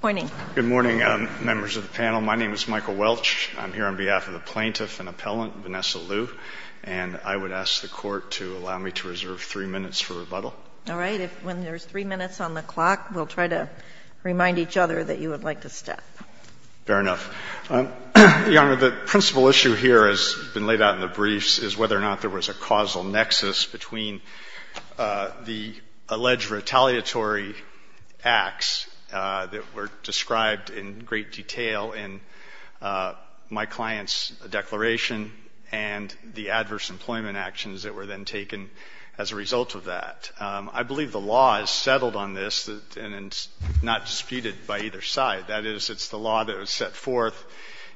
Good morning, members of the panel. My name is Michael Welch. I'm here on behalf of the plaintiff and appellant, Vannessa Luu, and I would ask the Court to allow me to reserve three minutes for rebuttal. All right. When there's three minutes on the clock, we'll try to remind each other that you would like to step. Fair enough. Your Honor, the principal issue here, as has been laid out in the briefs, is whether or not there was a causal nexus between the alleged retaliatory acts that were described in great detail in my client's declaration and the adverse employment actions that were then taken as a result of that. I believe the law is settled on this and is not disputed by either side. That is, it's the law that was set forth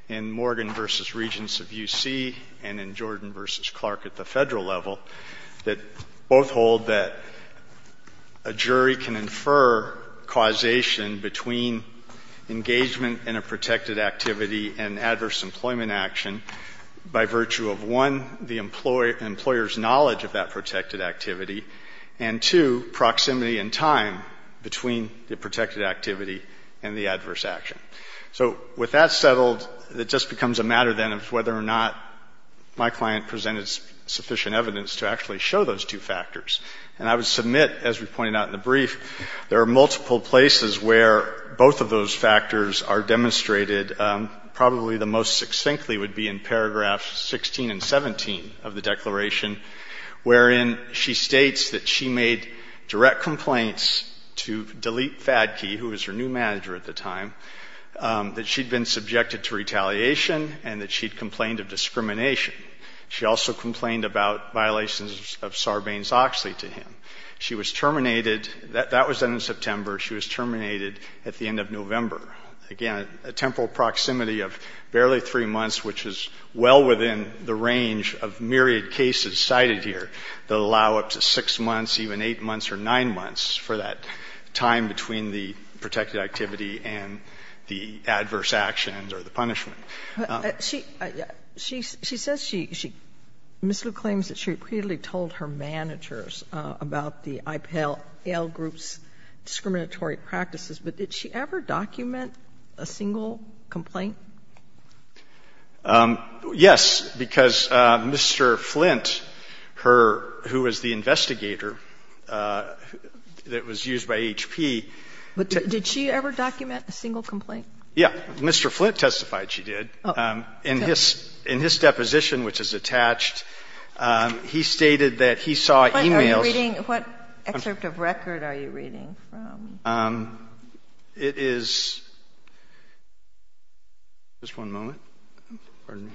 in Morgan v. Regents of U.C. and in Jordan v. Clark at the Federal level that both hold that a jury can infer causation between engagement in a protected activity and adverse employment action by virtue of, one, the employer's knowledge of that protected activity, and, two, proximity and time between the protected activity and the adverse action. So with that settled, it just becomes a matter, then, of whether or not my client presented sufficient evidence to actually show those two factors. And I would submit, as we pointed out in the brief, there are multiple places where both of those factors are demonstrated. Probably the most succinctly would be in paragraphs 16 and 17 of the declaration, wherein she states that she made direct complaints to Delete Fadke, who was her new manager at the time, that she'd been subjected to retaliation and that she'd complained of discrimination. She also complained about violations of Sarbanes-Oxley to him. She was terminated. That was done in September. Again, a temporal proximity of barely three months, which is well within the range of myriad cases cited here that allow up to 6 months, even 8 months or 9 months for that time between the protected activity and the adverse actions or the punishment. Sotomayor. She says she, Ms. Liu claims that she repeatedly told her managers about the IPAL groups' discriminatory practices, but did she ever document a single complaint? Yes, because Mr. Flint, her, who was the investigator that was used by HP. But did she ever document a single complaint? Yeah. Mr. Flint testified she did. Oh. In his, in his deposition, which is attached, he stated that he saw e-mails. What are you reading? What excerpt of record are you reading from? It is, just one moment. Pardon me.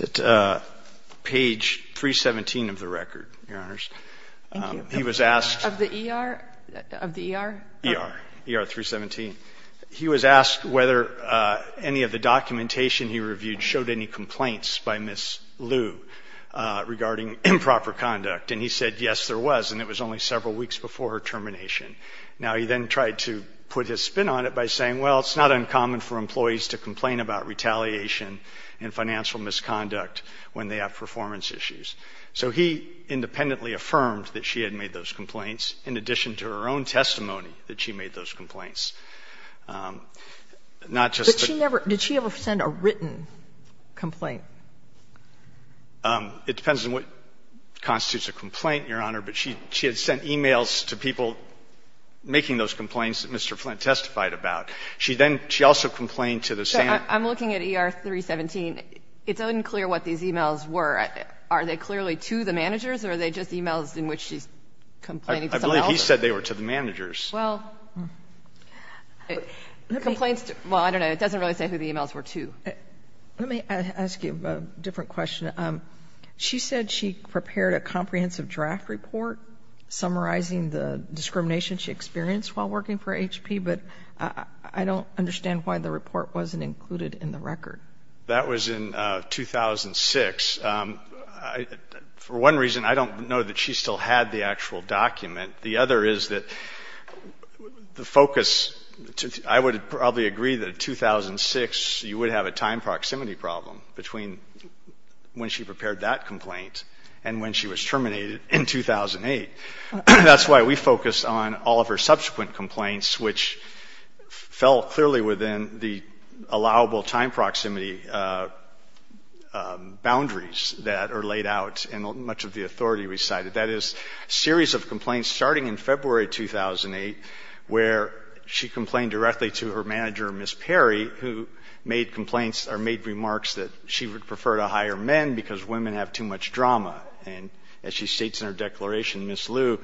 It's at page 317 of the record, Your Honors. Thank you. He was asked. Of the ER? Of the ER? ER. ER 317. He was asked whether any of the documentation he reviewed showed any complaints by Ms. Liu regarding improper conduct. And he said, yes, there was. And it was only several weeks before her termination. Now, he then tried to put his spin on it by saying, well, it's not uncommon for employees to complain about retaliation and financial misconduct when they have performance issues. So he independently affirmed that she had made those complaints, in addition to her own testimony that she made those complaints. Not just the. But she never, did she ever send a written complaint? It depends on what constitutes a complaint, Your Honor, but she had sent e-mails to people making those complaints that Mr. Flint testified about. She then, she also complained to the same. I'm looking at ER 317. It's unclear what these e-mails were. Are they clearly to the managers, or are they just e-mails in which she's complaining to someone else? I believe he said they were to the managers. Well, complaints, well, I don't know. It doesn't really say who the e-mails were to. Let me ask you a different question. She said she prepared a comprehensive draft report summarizing the discrimination she experienced while working for HP, but I don't understand why the report wasn't included in the record. That was in 2006. For one reason, I don't know that she still had the actual document. The other is that the focus, I would probably agree that in 2006 you would have a time proximity problem between when she prepared that complaint and when she was terminated in 2008. That's why we focused on all of her subsequent complaints, which fell clearly within the allowable time proximity boundaries that are laid out in much of the authority we cited. That is, a series of complaints starting in February 2008 where she complained directly to her manager, Ms. Perry, who made complaints or made remarks that she would prefer to hire men because women have too much drama. And as she states in her declaration, Ms. Liu,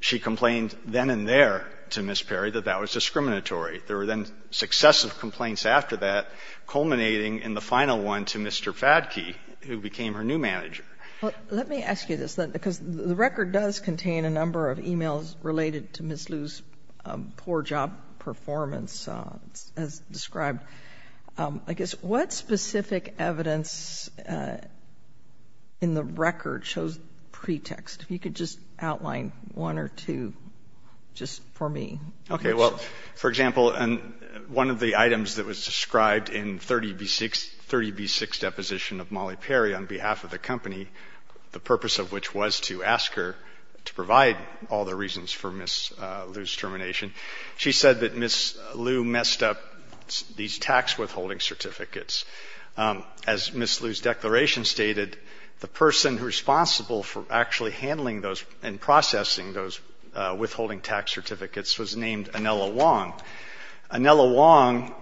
she complained then and there to Ms. Perry that that was discriminatory. There were then successive complaints after that culminating in the final one to Mr. Fadke, who became her new manager. Well, let me ask you this, because the record does contain a number of e-mails related to Ms. Liu's poor job performance as described. I guess what specific evidence in the record shows pretext? If you could just outline one or two just for me. Okay. Well, for example, one of the items that was described in 30B6, 30B6 deposition of Molly Perry on behalf of the company, the purpose of which was to ask her to provide all the reasons for Ms. Liu's termination. She said that Ms. Liu messed up these tax withholding certificates. As Ms. Liu's declaration stated, the person responsible for actually handling those and processing those withholding tax certificates was named Anela Wong. Anela Wong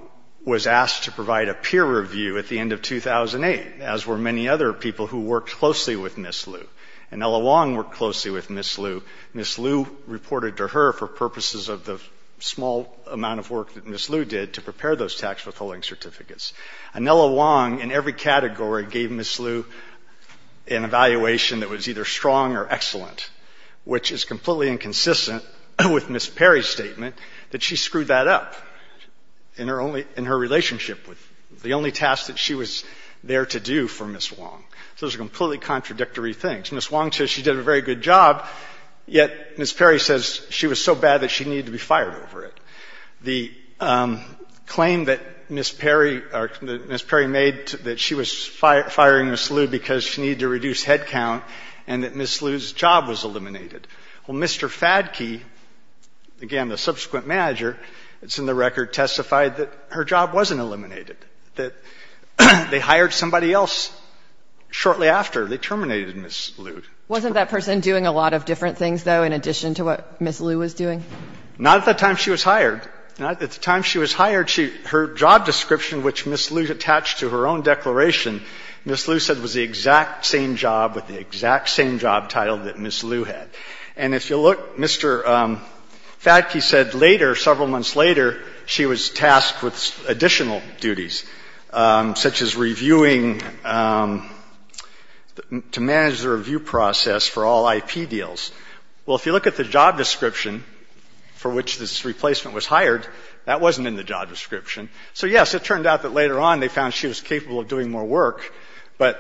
was asked to provide a peer review at the end of 2008, as were many other people who worked closely with Ms. Liu. Anela Wong worked closely with Ms. Liu. Ms. Liu reported to her for purposes of the small amount of work that Ms. Liu did to prepare those tax withholding certificates. Anela Wong, in every category, gave Ms. Liu an evaluation that was either strong or excellent, which is completely inconsistent with Ms. Perry's statement that she screwed that up in her relationship with the only task that she was there to do for Ms. Wong. So those are completely contradictory things. Ms. Wong says she did a very good job, yet Ms. Perry says she was so bad that she needed to be fired over it. The claim that Ms. Perry made that she was firing Ms. Liu because she needed to reduce headcount and that Ms. Liu's job was eliminated. Well, Mr. Fadke, again, the subsequent manager that's in the record, testified that her job wasn't eliminated, that they hired somebody else. Shortly after, they terminated Ms. Liu. Wasn't that person doing a lot of different things, though, in addition to what Ms. Liu was doing? Not at the time she was hired. At the time she was hired, her job description, which Ms. Liu attached to her own declaration, Ms. Liu said was the exact same job with the exact same job title that Ms. Liu had. And if you look, Mr. Fadke said later, several months later, she was tasked with to manage the review process for all IP deals. Well, if you look at the job description for which this replacement was hired, that wasn't in the job description. So, yes, it turned out that later on they found she was capable of doing more work, but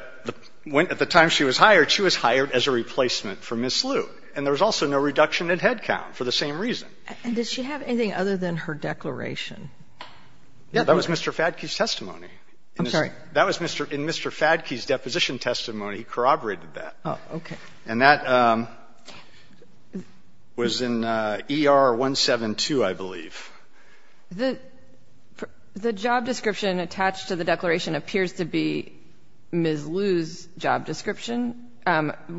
at the time she was hired, she was hired as a replacement for Ms. Liu. And there was also no reduction in headcount for the same reason. And does she have anything other than her declaration? Yeah. That was Mr. Fadke's testimony. I'm sorry. That was in Mr. Fadke's deposition testimony. He corroborated that. Oh, okay. And that was in ER 172, I believe. The job description attached to the declaration appears to be Ms. Liu's job description.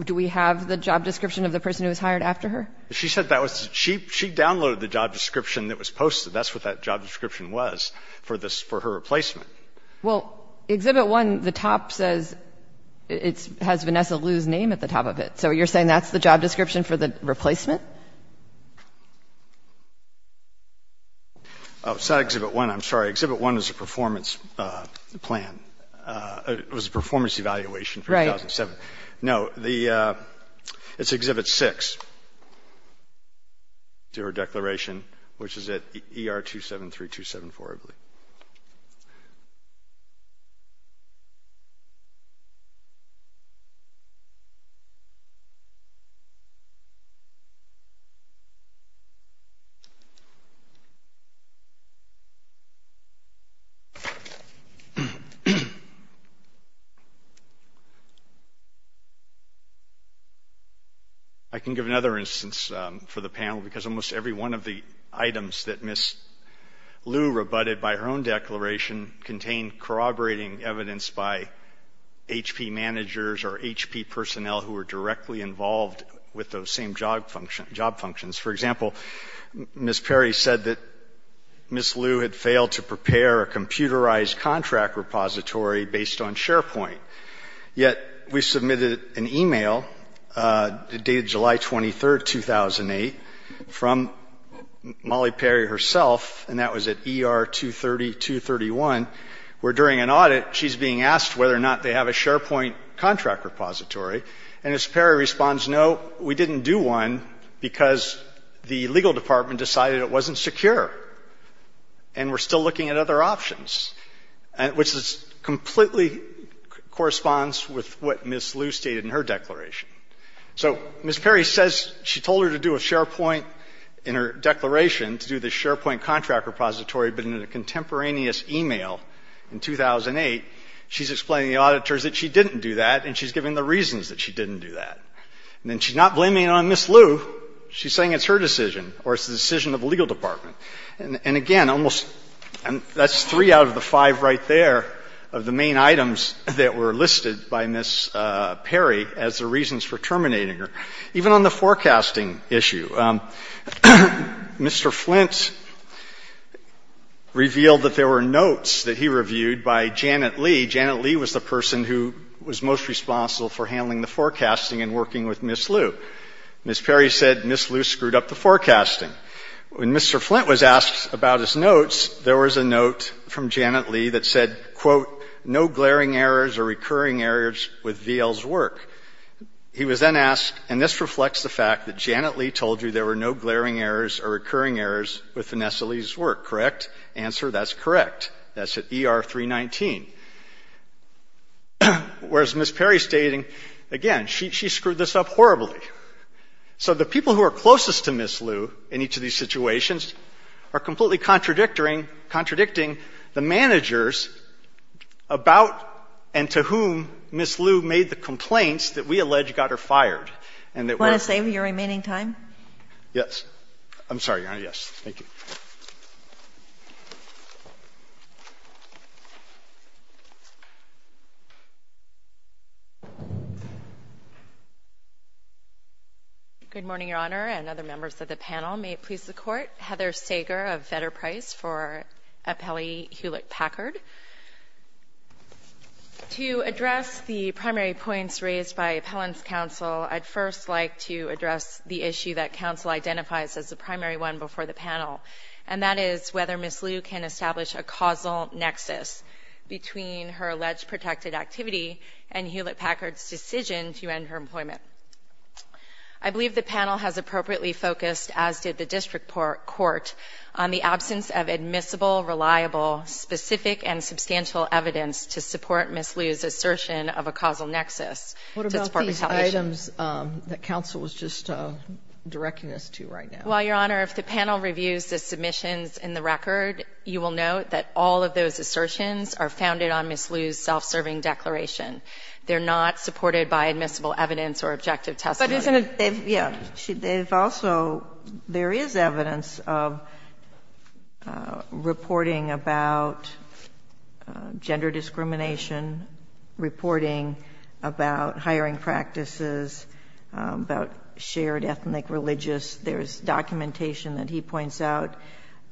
Do we have the job description of the person who was hired after her? She said that was the job description. She downloaded the job description that was posted. That's what that job description was for her replacement. Well, Exhibit 1, the top says it has Vanessa Liu's name at the top of it. So you're saying that's the job description for the replacement? Oh, it's not Exhibit 1. I'm sorry. Exhibit 1 is a performance plan. It was a performance evaluation for 2007. Right. No, it's Exhibit 6 to her declaration, which is at ER 273274, I believe. Okay. I can give another instance for the panel, because almost every one of the items that Ms. Liu rebutted by her own declaration contained corroborating evidence by HP managers or HP personnel who were directly involved with those same job functions. For example, Ms. Perry said that Ms. Liu had failed to prepare a computerized contract repository based on SharePoint. Yet we submitted an e-mail the day of July 23, 2008, from Molly Perry herself, and that was at ER 230231, where during an audit, she's being asked whether or not they have a SharePoint contract repository. And Ms. Perry responds, no, we didn't do one because the legal department decided it wasn't secure and we're still looking at other options, which completely corresponds with what Ms. Liu stated in her declaration. So Ms. Perry says she told her to do a SharePoint in her declaration, to do the SharePoint contract repository, but in a contemporaneous e-mail in 2008, she's explaining to the auditors that she didn't do that, and she's giving the reasons that she didn't do that. And then she's not blaming it on Ms. Liu. She's saying it's her decision or it's the decision of the legal department. And, again, that's three out of the five right there of the main items that were listed by Ms. Perry as the reasons for terminating her. Even on the forecasting issue, Mr. Flint revealed that there were notes that he reviewed by Janet Lee. Janet Lee was the person who was most responsible for handling the forecasting and working with Ms. Liu. Ms. Perry said Ms. Liu screwed up the forecasting. When Mr. Flint was asked about his notes, there was a note from Janet Lee that said, quote, no glaring errors or recurring errors with VL's work. He was then asked, and this reflects the fact that Janet Lee told you there were no glaring errors or recurring errors with Vanessa Lee's work, correct? Answer, that's correct. That's at ER 319. Whereas Ms. Perry's stating, again, she screwed this up horribly. So the people who are closest to Ms. Liu in each of these situations are completely contradicting the managers about and to whom Ms. Liu made the complaints that we allege got her fired. And that we're going to save your remaining time. Yes. I'm sorry, Your Honor. Yes. Thank you. Good morning, Your Honor and other members of the panel. May it please the Court. Heather Sager of Vetter Price for Appellee Hewlett-Packard. To address the primary points raised by Appellant's counsel, I'd first like to address the issue that counsel identifies as the primary one before the panel. And that is whether Ms. Liu can establish a causal nexus between her alleged protected activity and Hewlett-Packard's decision to end her employment. I believe the panel has appropriately focused, as did the district court, on the absence of admissible, reliable, specific, and substantial evidence to support Ms. Liu's assertion of a causal nexus. What about these items that counsel was just directing us to right now? Well, Your Honor, if the panel reviews the submissions in the record, you will note that all of those assertions are founded on Ms. Liu's self-serving declaration. They're not supported by admissible evidence or objective testimony. But isn't it they've also, there is evidence of reporting about gender discrimination, reporting about hiring practices, about shared ethnic religious. There's documentation that he points out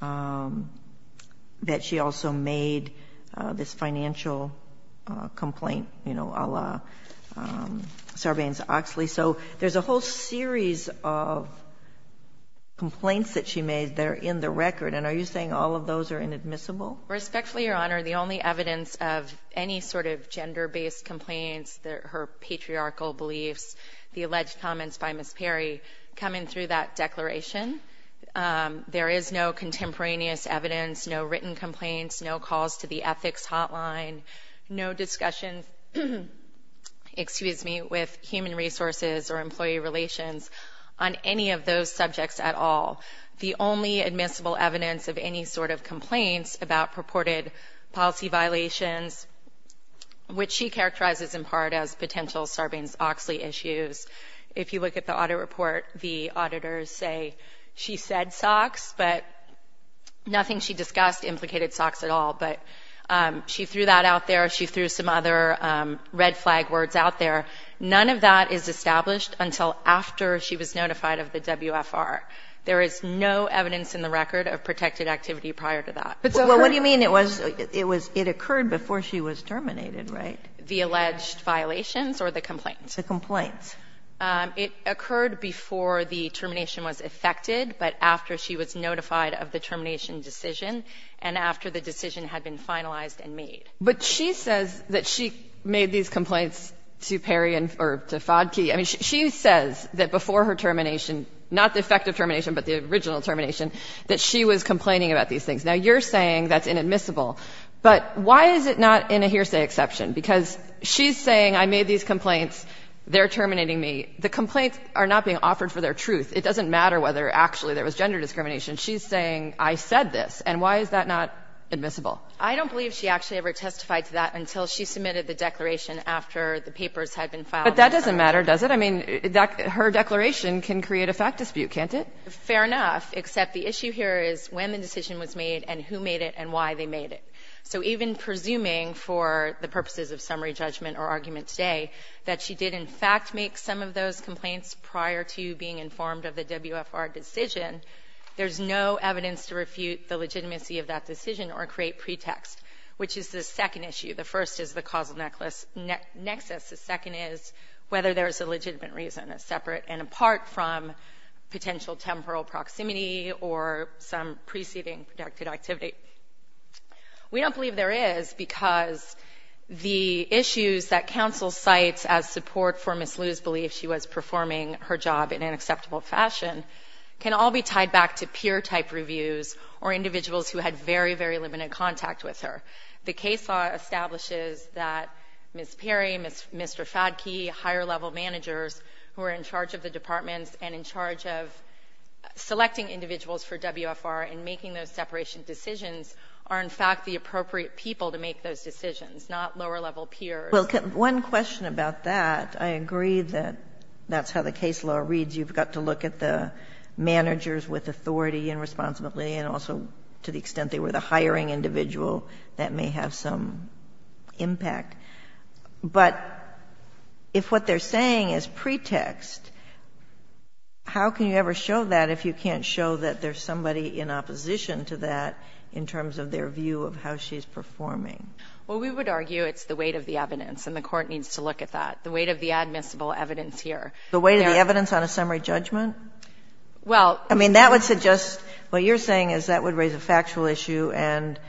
that she also made this financial complaint, you know, a la Sarbanes-Oxley. So there's a whole series of complaints that she made that are in the record. And are you saying all of those are inadmissible? Respectfully, Your Honor, the only evidence of any sort of gender-based complaints, her patriarchal beliefs, the alleged comments by Ms. Perry coming through that declaration, there is no contemporaneous evidence, no written complaints, no calls to the ethics hotline, no discussions with human resources or employee relations on any of those subjects at all. The only admissible evidence of any sort of complaints about purported policy violations, which she characterizes in part as potential Sarbanes-Oxley issues, if you look at the audit report, the auditors say she said SOX, but nothing she discussed implicated SOX at all. But she threw that out there. She threw some other red flag words out there. None of that is established until after she was notified of the WFR. There is no evidence in the record of protected activity prior to that. So what do you mean it was, it occurred before she was terminated, right? The alleged violations or the complaints? The complaints. It occurred before the termination was effected, but after she was notified of the termination decision and after the decision had been finalized and made. But she says that she made these complaints to Perry or to Fodky. I mean, she says that before her termination, not the effective termination, but the original termination, that she was complaining about these things. Now, you're saying that's inadmissible. But why is it not in a hearsay exception? Because she's saying I made these complaints, they're terminating me. The complaints are not being offered for their truth. It doesn't matter whether actually there was gender discrimination. She's saying I said this. And why is that not admissible? I don't believe she actually ever testified to that until she submitted the declaration after the papers had been filed. But that doesn't matter, does it? I mean, her declaration can create a fact dispute, can't it? Fair enough, except the issue here is when the decision was made and who made it and why they made it. So even presuming for the purposes of summary judgment or argument today that she did in fact make some of those complaints prior to being informed of the WFR decision, there's no evidence to refute the legitimacy of that decision or create pretext, which is the second issue. The first is the causal nexus. The second is whether there's a legitimate reason separate and apart from potential temporal proximity or some preceding productive activity. We don't believe there is because the issues that counsel cites as support for Ms. Liu's belief she was performing her job in an acceptable fashion can all be tied back to peer-type reviews or individuals who had very, very limited contact with her. The case law establishes that Ms. Perry, Mr. Fadke, higher-level managers who are in charge of the departments and in charge of selecting individuals for WFR and making those separation decisions are in fact the appropriate people to make those decisions, not lower-level peers. Well, one question about that. I agree that that's how the case law reads. You've got to look at the managers with authority and responsibility and also to the person that may have some impact. But if what they're saying is pretext, how can you ever show that if you can't show that there's somebody in opposition to that in terms of their view of how she's performing? Well, we would argue it's the weight of the evidence, and the Court needs to look at that, the weight of the admissible evidence here. The weight of the evidence on a summary judgment? Well, I mean, that would suggest what you're saying is that would raise a factual issue and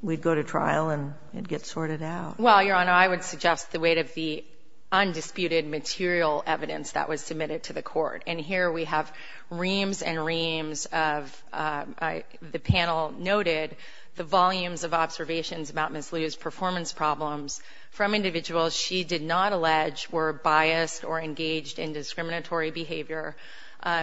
we'd go to trial and it'd get sorted out. Well, Your Honor, I would suggest the weight of the undisputed material evidence that was submitted to the Court. And here we have reams and reams of, the panel noted, the volumes of observations about Ms. Liu's performance problems from individuals she did not allege were biased or engaged in discriminatory behavior.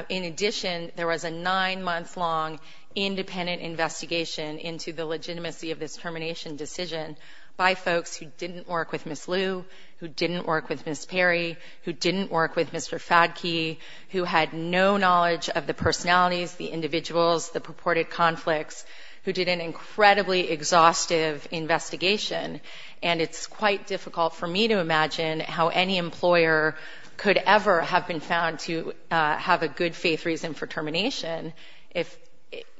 In addition, there was a nine-month-long independent investigation into the legitimacy of this termination decision by folks who didn't work with Ms. Liu, who didn't work with Ms. Perry, who didn't work with Mr. Fadke, who had no knowledge of the personalities, the individuals, the purported conflicts, who did an incredibly exhaustive investigation. And it's quite difficult for me to imagine how any employer could ever have been found to have a good-faith reason for termination if,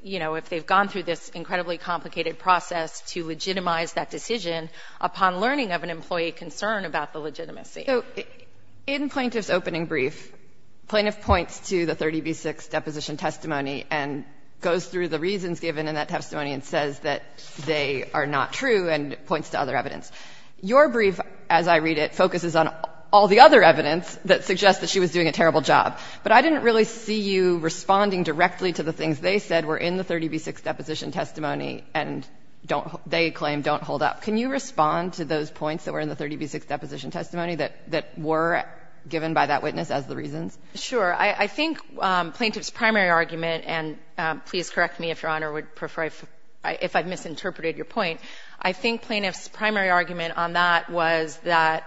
you know, if they've gone through this incredibly complicated process to legitimize that decision upon learning of an employee concern about the legitimacy. So in Plaintiff's opening brief, Plaintiff points to the 30b6 deposition testimony and goes through the reasons given in that testimony and says that they are not true and points to other evidence. Your brief, as I read it, focuses on all the other evidence that suggests that she was doing a terrible job. But I didn't really see you responding directly to the things they said were in the 30b6 deposition testimony and don't they claim don't hold up. Can you respond to those points that were in the 30b6 deposition testimony that were given by that witness as the reasons? Sure. I think Plaintiff's primary argument, and please correct me, Your Honor, if I've misinterpreted your point, I think Plaintiff's primary argument on that was that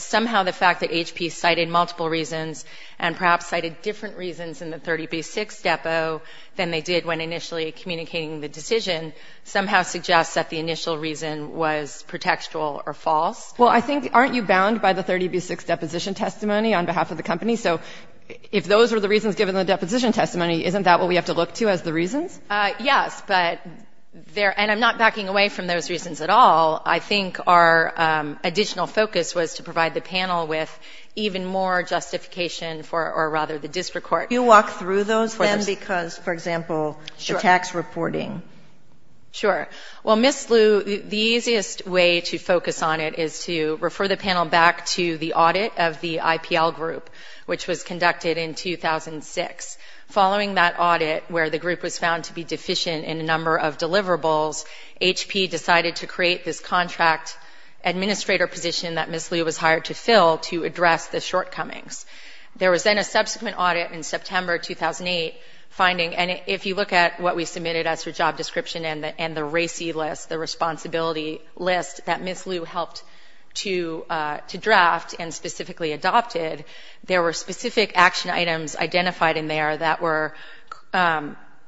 somehow the fact that HP cited multiple reasons and perhaps cited different reasons in the 30b6 depo than they did when initially communicating the decision somehow suggests that the initial reason was pretextual or false. Well, I think aren't you bound by the 30b6 deposition testimony on behalf of the company? So if those were the reasons given in the deposition testimony, isn't that what we have to look to as the reasons? Yes, but there — and I'm not backing away from those reasons at all. I think our additional focus was to provide the panel with even more justification for — or rather the district court. Do you walk through those then because, for example, the tax reporting? Sure. Well, Ms. Liu, the easiest way to focus on it is to refer the panel back to the audit of the IPL group, which was conducted in 2006. Following that audit, where the group was found to be deficient in a number of administrator position that Ms. Liu was hired to fill to address the shortcomings. There was then a subsequent audit in September 2008 finding — and if you look at what we submitted as her job description and the RACI list, the responsibility list that Ms. Liu helped to draft and specifically adopted, there were specific action items identified in there that were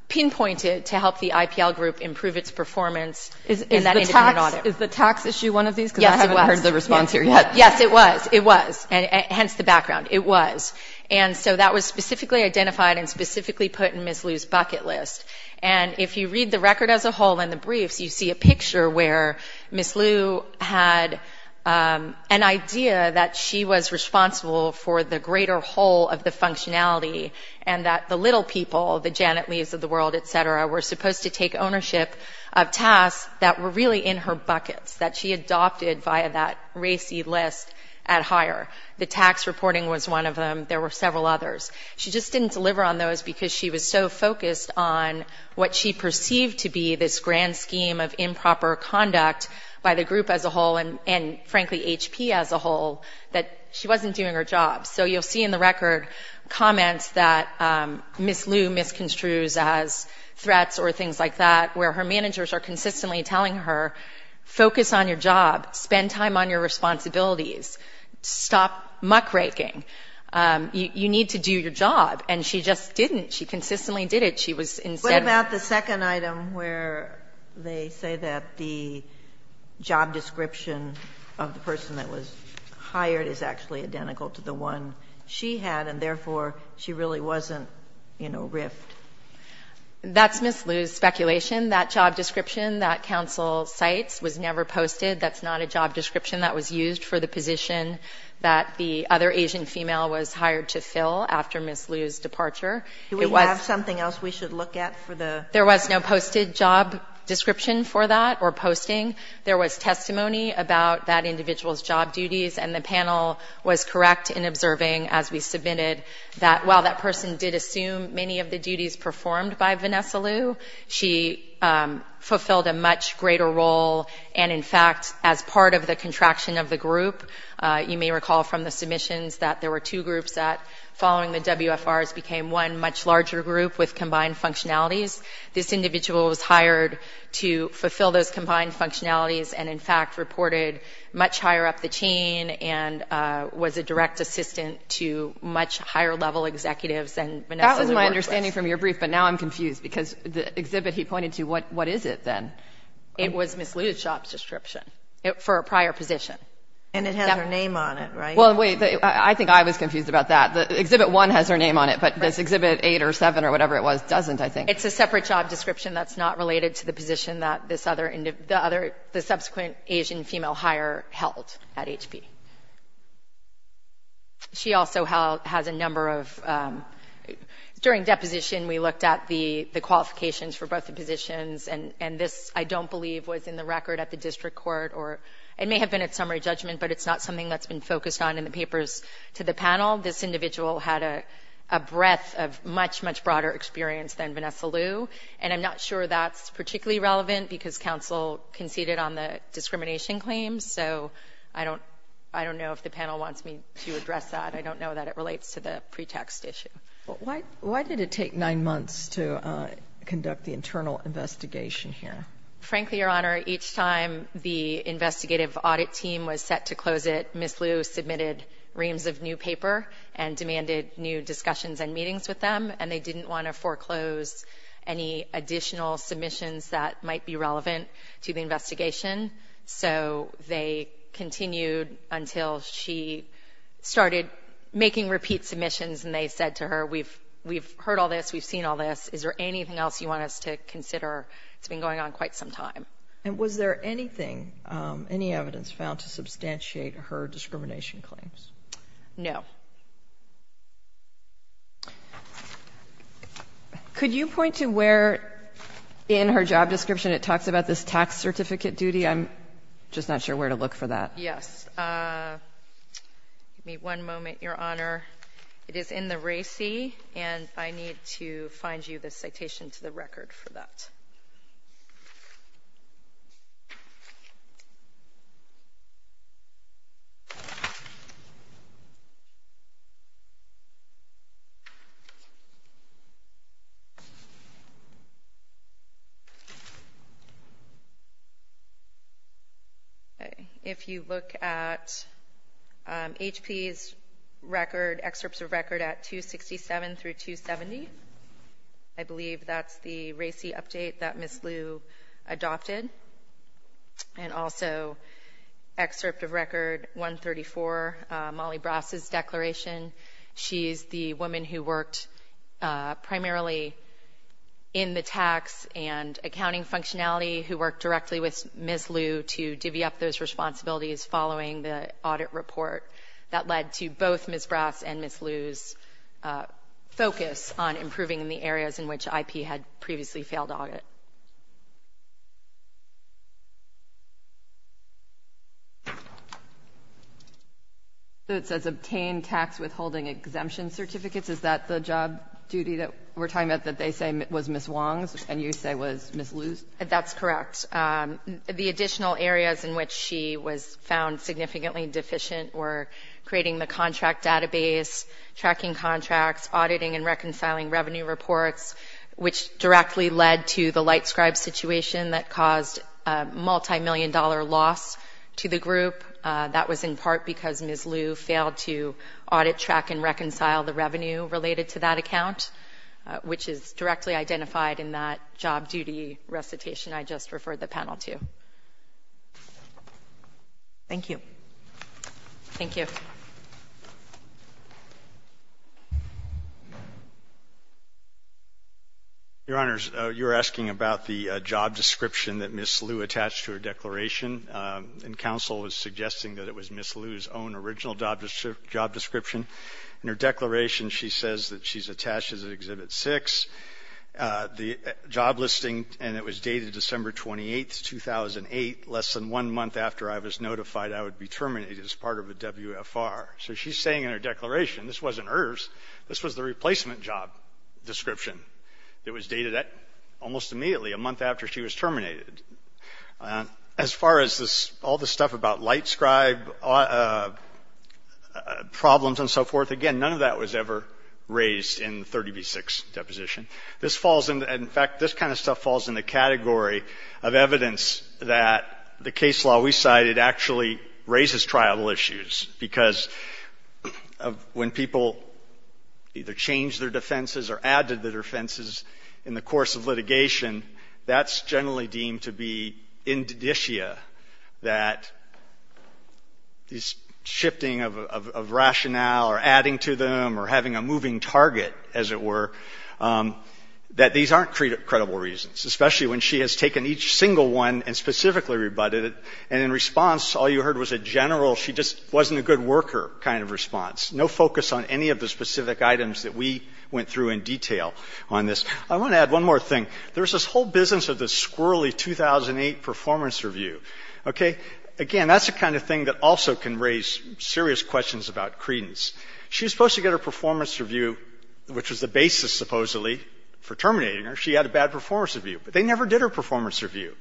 pinpointed to help the IPL group improve its performance in that independent audit. Is the tax issue one of these? Yes, it was. Because I haven't heard the response here yet. Yes, it was. It was. Hence the background. It was. And so that was specifically identified and specifically put in Ms. Liu's bucket list. And if you read the record as a whole and the briefs, you see a picture where Ms. Liu had an idea that she was responsible for the greater whole of the functionality and that the little people, the Janet Leaves of the world, et cetera, were supposed to take ownership of tasks that were really in her buckets, that she adopted via that RACI list at hire. The tax reporting was one of them. There were several others. She just didn't deliver on those because she was so focused on what she perceived to be this grand scheme of improper conduct by the group as a whole and, frankly, HP as a whole, that she wasn't doing her job. So you'll see in the record comments that Ms. Liu misconstrues as threats or things like that, where her managers are consistently telling her, focus on your job. Spend time on your responsibilities. Stop muckraking. You need to do your job. And she just didn't. She consistently did it. She was insensitive. What about the second item where they say that the job description of the person that was hired is actually identical to the one she had and, therefore, she really wasn't, you know, riffed? That's Ms. Liu's speculation. That job description that counsel cites was never posted. That's not a job description that was used for the position that the other Asian female was hired to fill after Ms. Liu's departure. Do we have something else we should look at for the? There was no posted job description for that or posting. There was testimony about that individual's job duties. And the panel was correct in observing, as we submitted, that while that person did assume many of the duties performed by Vanessa Liu, she fulfilled a much greater role. And, in fact, as part of the contraction of the group, you may recall from the submissions that there were two groups that, following the WFRs, became one much larger group with combined functionalities. This individual was hired to fulfill those combined functionalities and, in fact, reported much higher up the chain and was a direct assistant to much higher level executives than Vanessa Liu. That was my understanding from your brief, but now I'm confused because the exhibit he pointed to, what is it then? It was Ms. Liu's job description for a prior position. And it has her name on it, right? Well, wait, I think I was confused about that. Exhibit one has her name on it, but this exhibit eight or seven or whatever it was doesn't, I think. It's a separate job description that's not related to the position that the subsequent Asian female hire held at HP. She also has a number of, during deposition, we looked at the qualifications for both the positions, and this, I don't believe, was in the record at the district court. It may have been at summary judgment, but it's not something that's been focused on in the papers to the panel. This individual had a breadth of much, much broader experience than Vanessa Liu, and I'm not sure that's particularly relevant because counsel conceded on the discrimination claims, so I don't know if the panel wants me to address that. I don't know that it relates to the pretext issue. Why did it take nine months to conduct the internal investigation here? Frankly, Your Honor, each time the investigative audit team was set to close it, Ms. Liu submitted reams of new paper and demanded new discussions and meetings with them, and they didn't want to foreclose any additional submissions that might be relevant to the investigation, so they continued until she started making repeat submissions, and they said to her, we've heard all this, we've seen all this. Is there anything else you want us to consider? It's been going on quite some time. And was there anything, any evidence found to substantiate her discrimination claims? No. Could you point to where in her job description it talks about this tax certificate duty? I'm just not sure where to look for that. Yes. Give me one moment, Your Honor. It is in the RACI, and I need to find you the citation to the record for that. Okay. If you look at HP's record, excerpts of record at 267 through 270, I believe that's the RACI update that Ms. Liu adopted. And also, excerpt of record 134, Molly Brass's declaration, she's the woman who worked primarily in the tax and accounting functionality, who worked directly with Ms. Liu to divvy up those responsibilities following the audit report. That led to both Ms. Brass and Ms. Liu's focus on improving in the areas in which IP had previously failed audit. So it says obtained tax withholding exemption certificates. Is that the job duty that we're talking about that they say was Ms. Wong's and you say was Ms. Liu's? That's correct. The additional areas in which she was found significantly deficient were creating the contract database, tracking contracts, auditing and reconciling revenue reports, which directly led to the light scribe situation that caused a multimillion-dollar loss to the group. That was in part because Ms. Liu failed to audit, track, and reconcile the revenue related to that account, which is directly identified in that job duty recitation I just referred the panel to. Thank you. Thank you. Your Honors, you were asking about the job description that Ms. Liu attached to her declaration, and counsel was suggesting that it was Ms. Liu's own original job description. In her declaration, she says that she's attached as of Exhibit 6. The job listing, and it was dated December 28th, 2008, less than one month after I was notified I would be terminated as part of a WFR. So she's saying in her declaration this wasn't hers. This was the replacement job description that was dated almost immediately, a month after she was terminated. As far as all the stuff about light scribe problems and so forth, again, none of that was ever raised in the 30B6 deposition. In fact, this kind of stuff falls in the category of evidence that the case law we cited actually raises trial issues because when people either change their defenses or add to their defenses in the course of litigation, that's generally deemed to be or having a moving target, as it were, that these aren't credible reasons, especially when she has taken each single one and specifically rebutted it. And in response, all you heard was a general she just wasn't a good worker kind of response. No focus on any of the specific items that we went through in detail on this. I want to add one more thing. There's this whole business of the squirrely 2008 performance review. Again, that's the kind of thing that also can raise serious questions about credence. She was supposed to get her performance review, which was the basis, supposedly, for terminating her. She had a bad performance review. But they never did her performance review.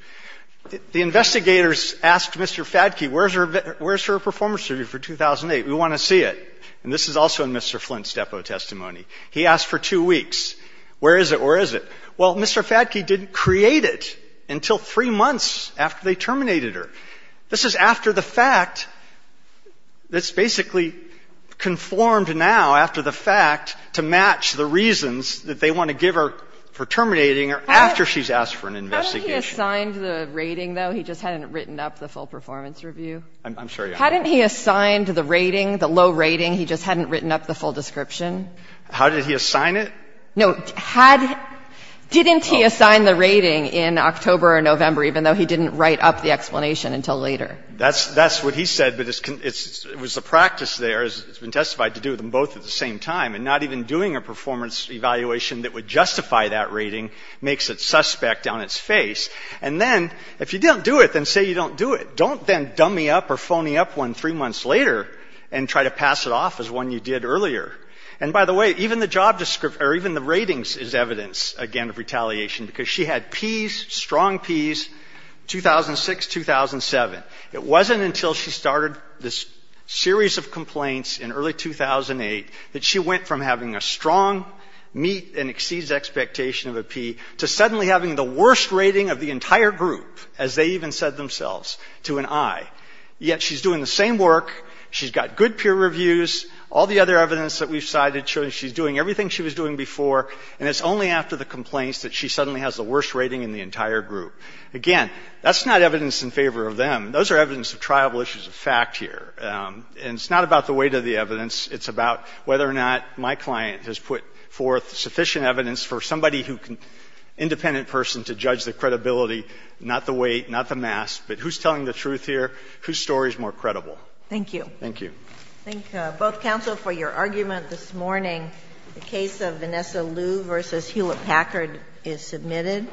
The investigators asked Mr. Fadke, where's her performance review for 2008? We want to see it. And this is also in Mr. Flint's depo testimony. He asked for two weeks. Where is it? Where is it? Well, Mr. Fadke didn't create it until three months after they terminated her. This is after the fact. It's basically conformed now after the fact to match the reasons that they want to give her for terminating her after she's asked for an investigation. How did he assign the rating, though? He just hadn't written up the full performance review. I'm sorry. How did he assign the rating, the low rating? He just hadn't written up the full description. How did he assign it? No, didn't he assign the rating in October or November, even though he didn't write up the explanation until later? That's what he said, but it was a practice there. It's been testified to do them both at the same time. And not even doing a performance evaluation that would justify that rating makes it suspect on its face. And then if you don't do it, then say you don't do it. Don't then dummy up or phony up one three months later and try to pass it off as one you did earlier. And, by the way, even the job description or even the ratings is evidence, again, of retaliation. Because she had P's, strong P's, 2006-2007. It wasn't until she started this series of complaints in early 2008 that she went from having a strong meet and exceeds expectation of a P to suddenly having the worst rating of the entire group, as they even said themselves, to an I. Yet she's doing the same work. She's got good peer reviews. All the other evidence that we've cited shows she's doing everything she was doing before, and it's only after the complaints that she suddenly has the worst rating in the entire group. Again, that's not evidence in favor of them. Those are evidence of triable issues of fact here. And it's not about the weight of the evidence. It's about whether or not my client has put forth sufficient evidence for somebody who can, independent person, to judge the credibility, not the weight, not the mass. But who's telling the truth here? Whose story is more credible? Thank you. Thank you. I thank both counsel for your argument this morning. The case of Vanessa Liu v. Hewlett-Packard is submitted.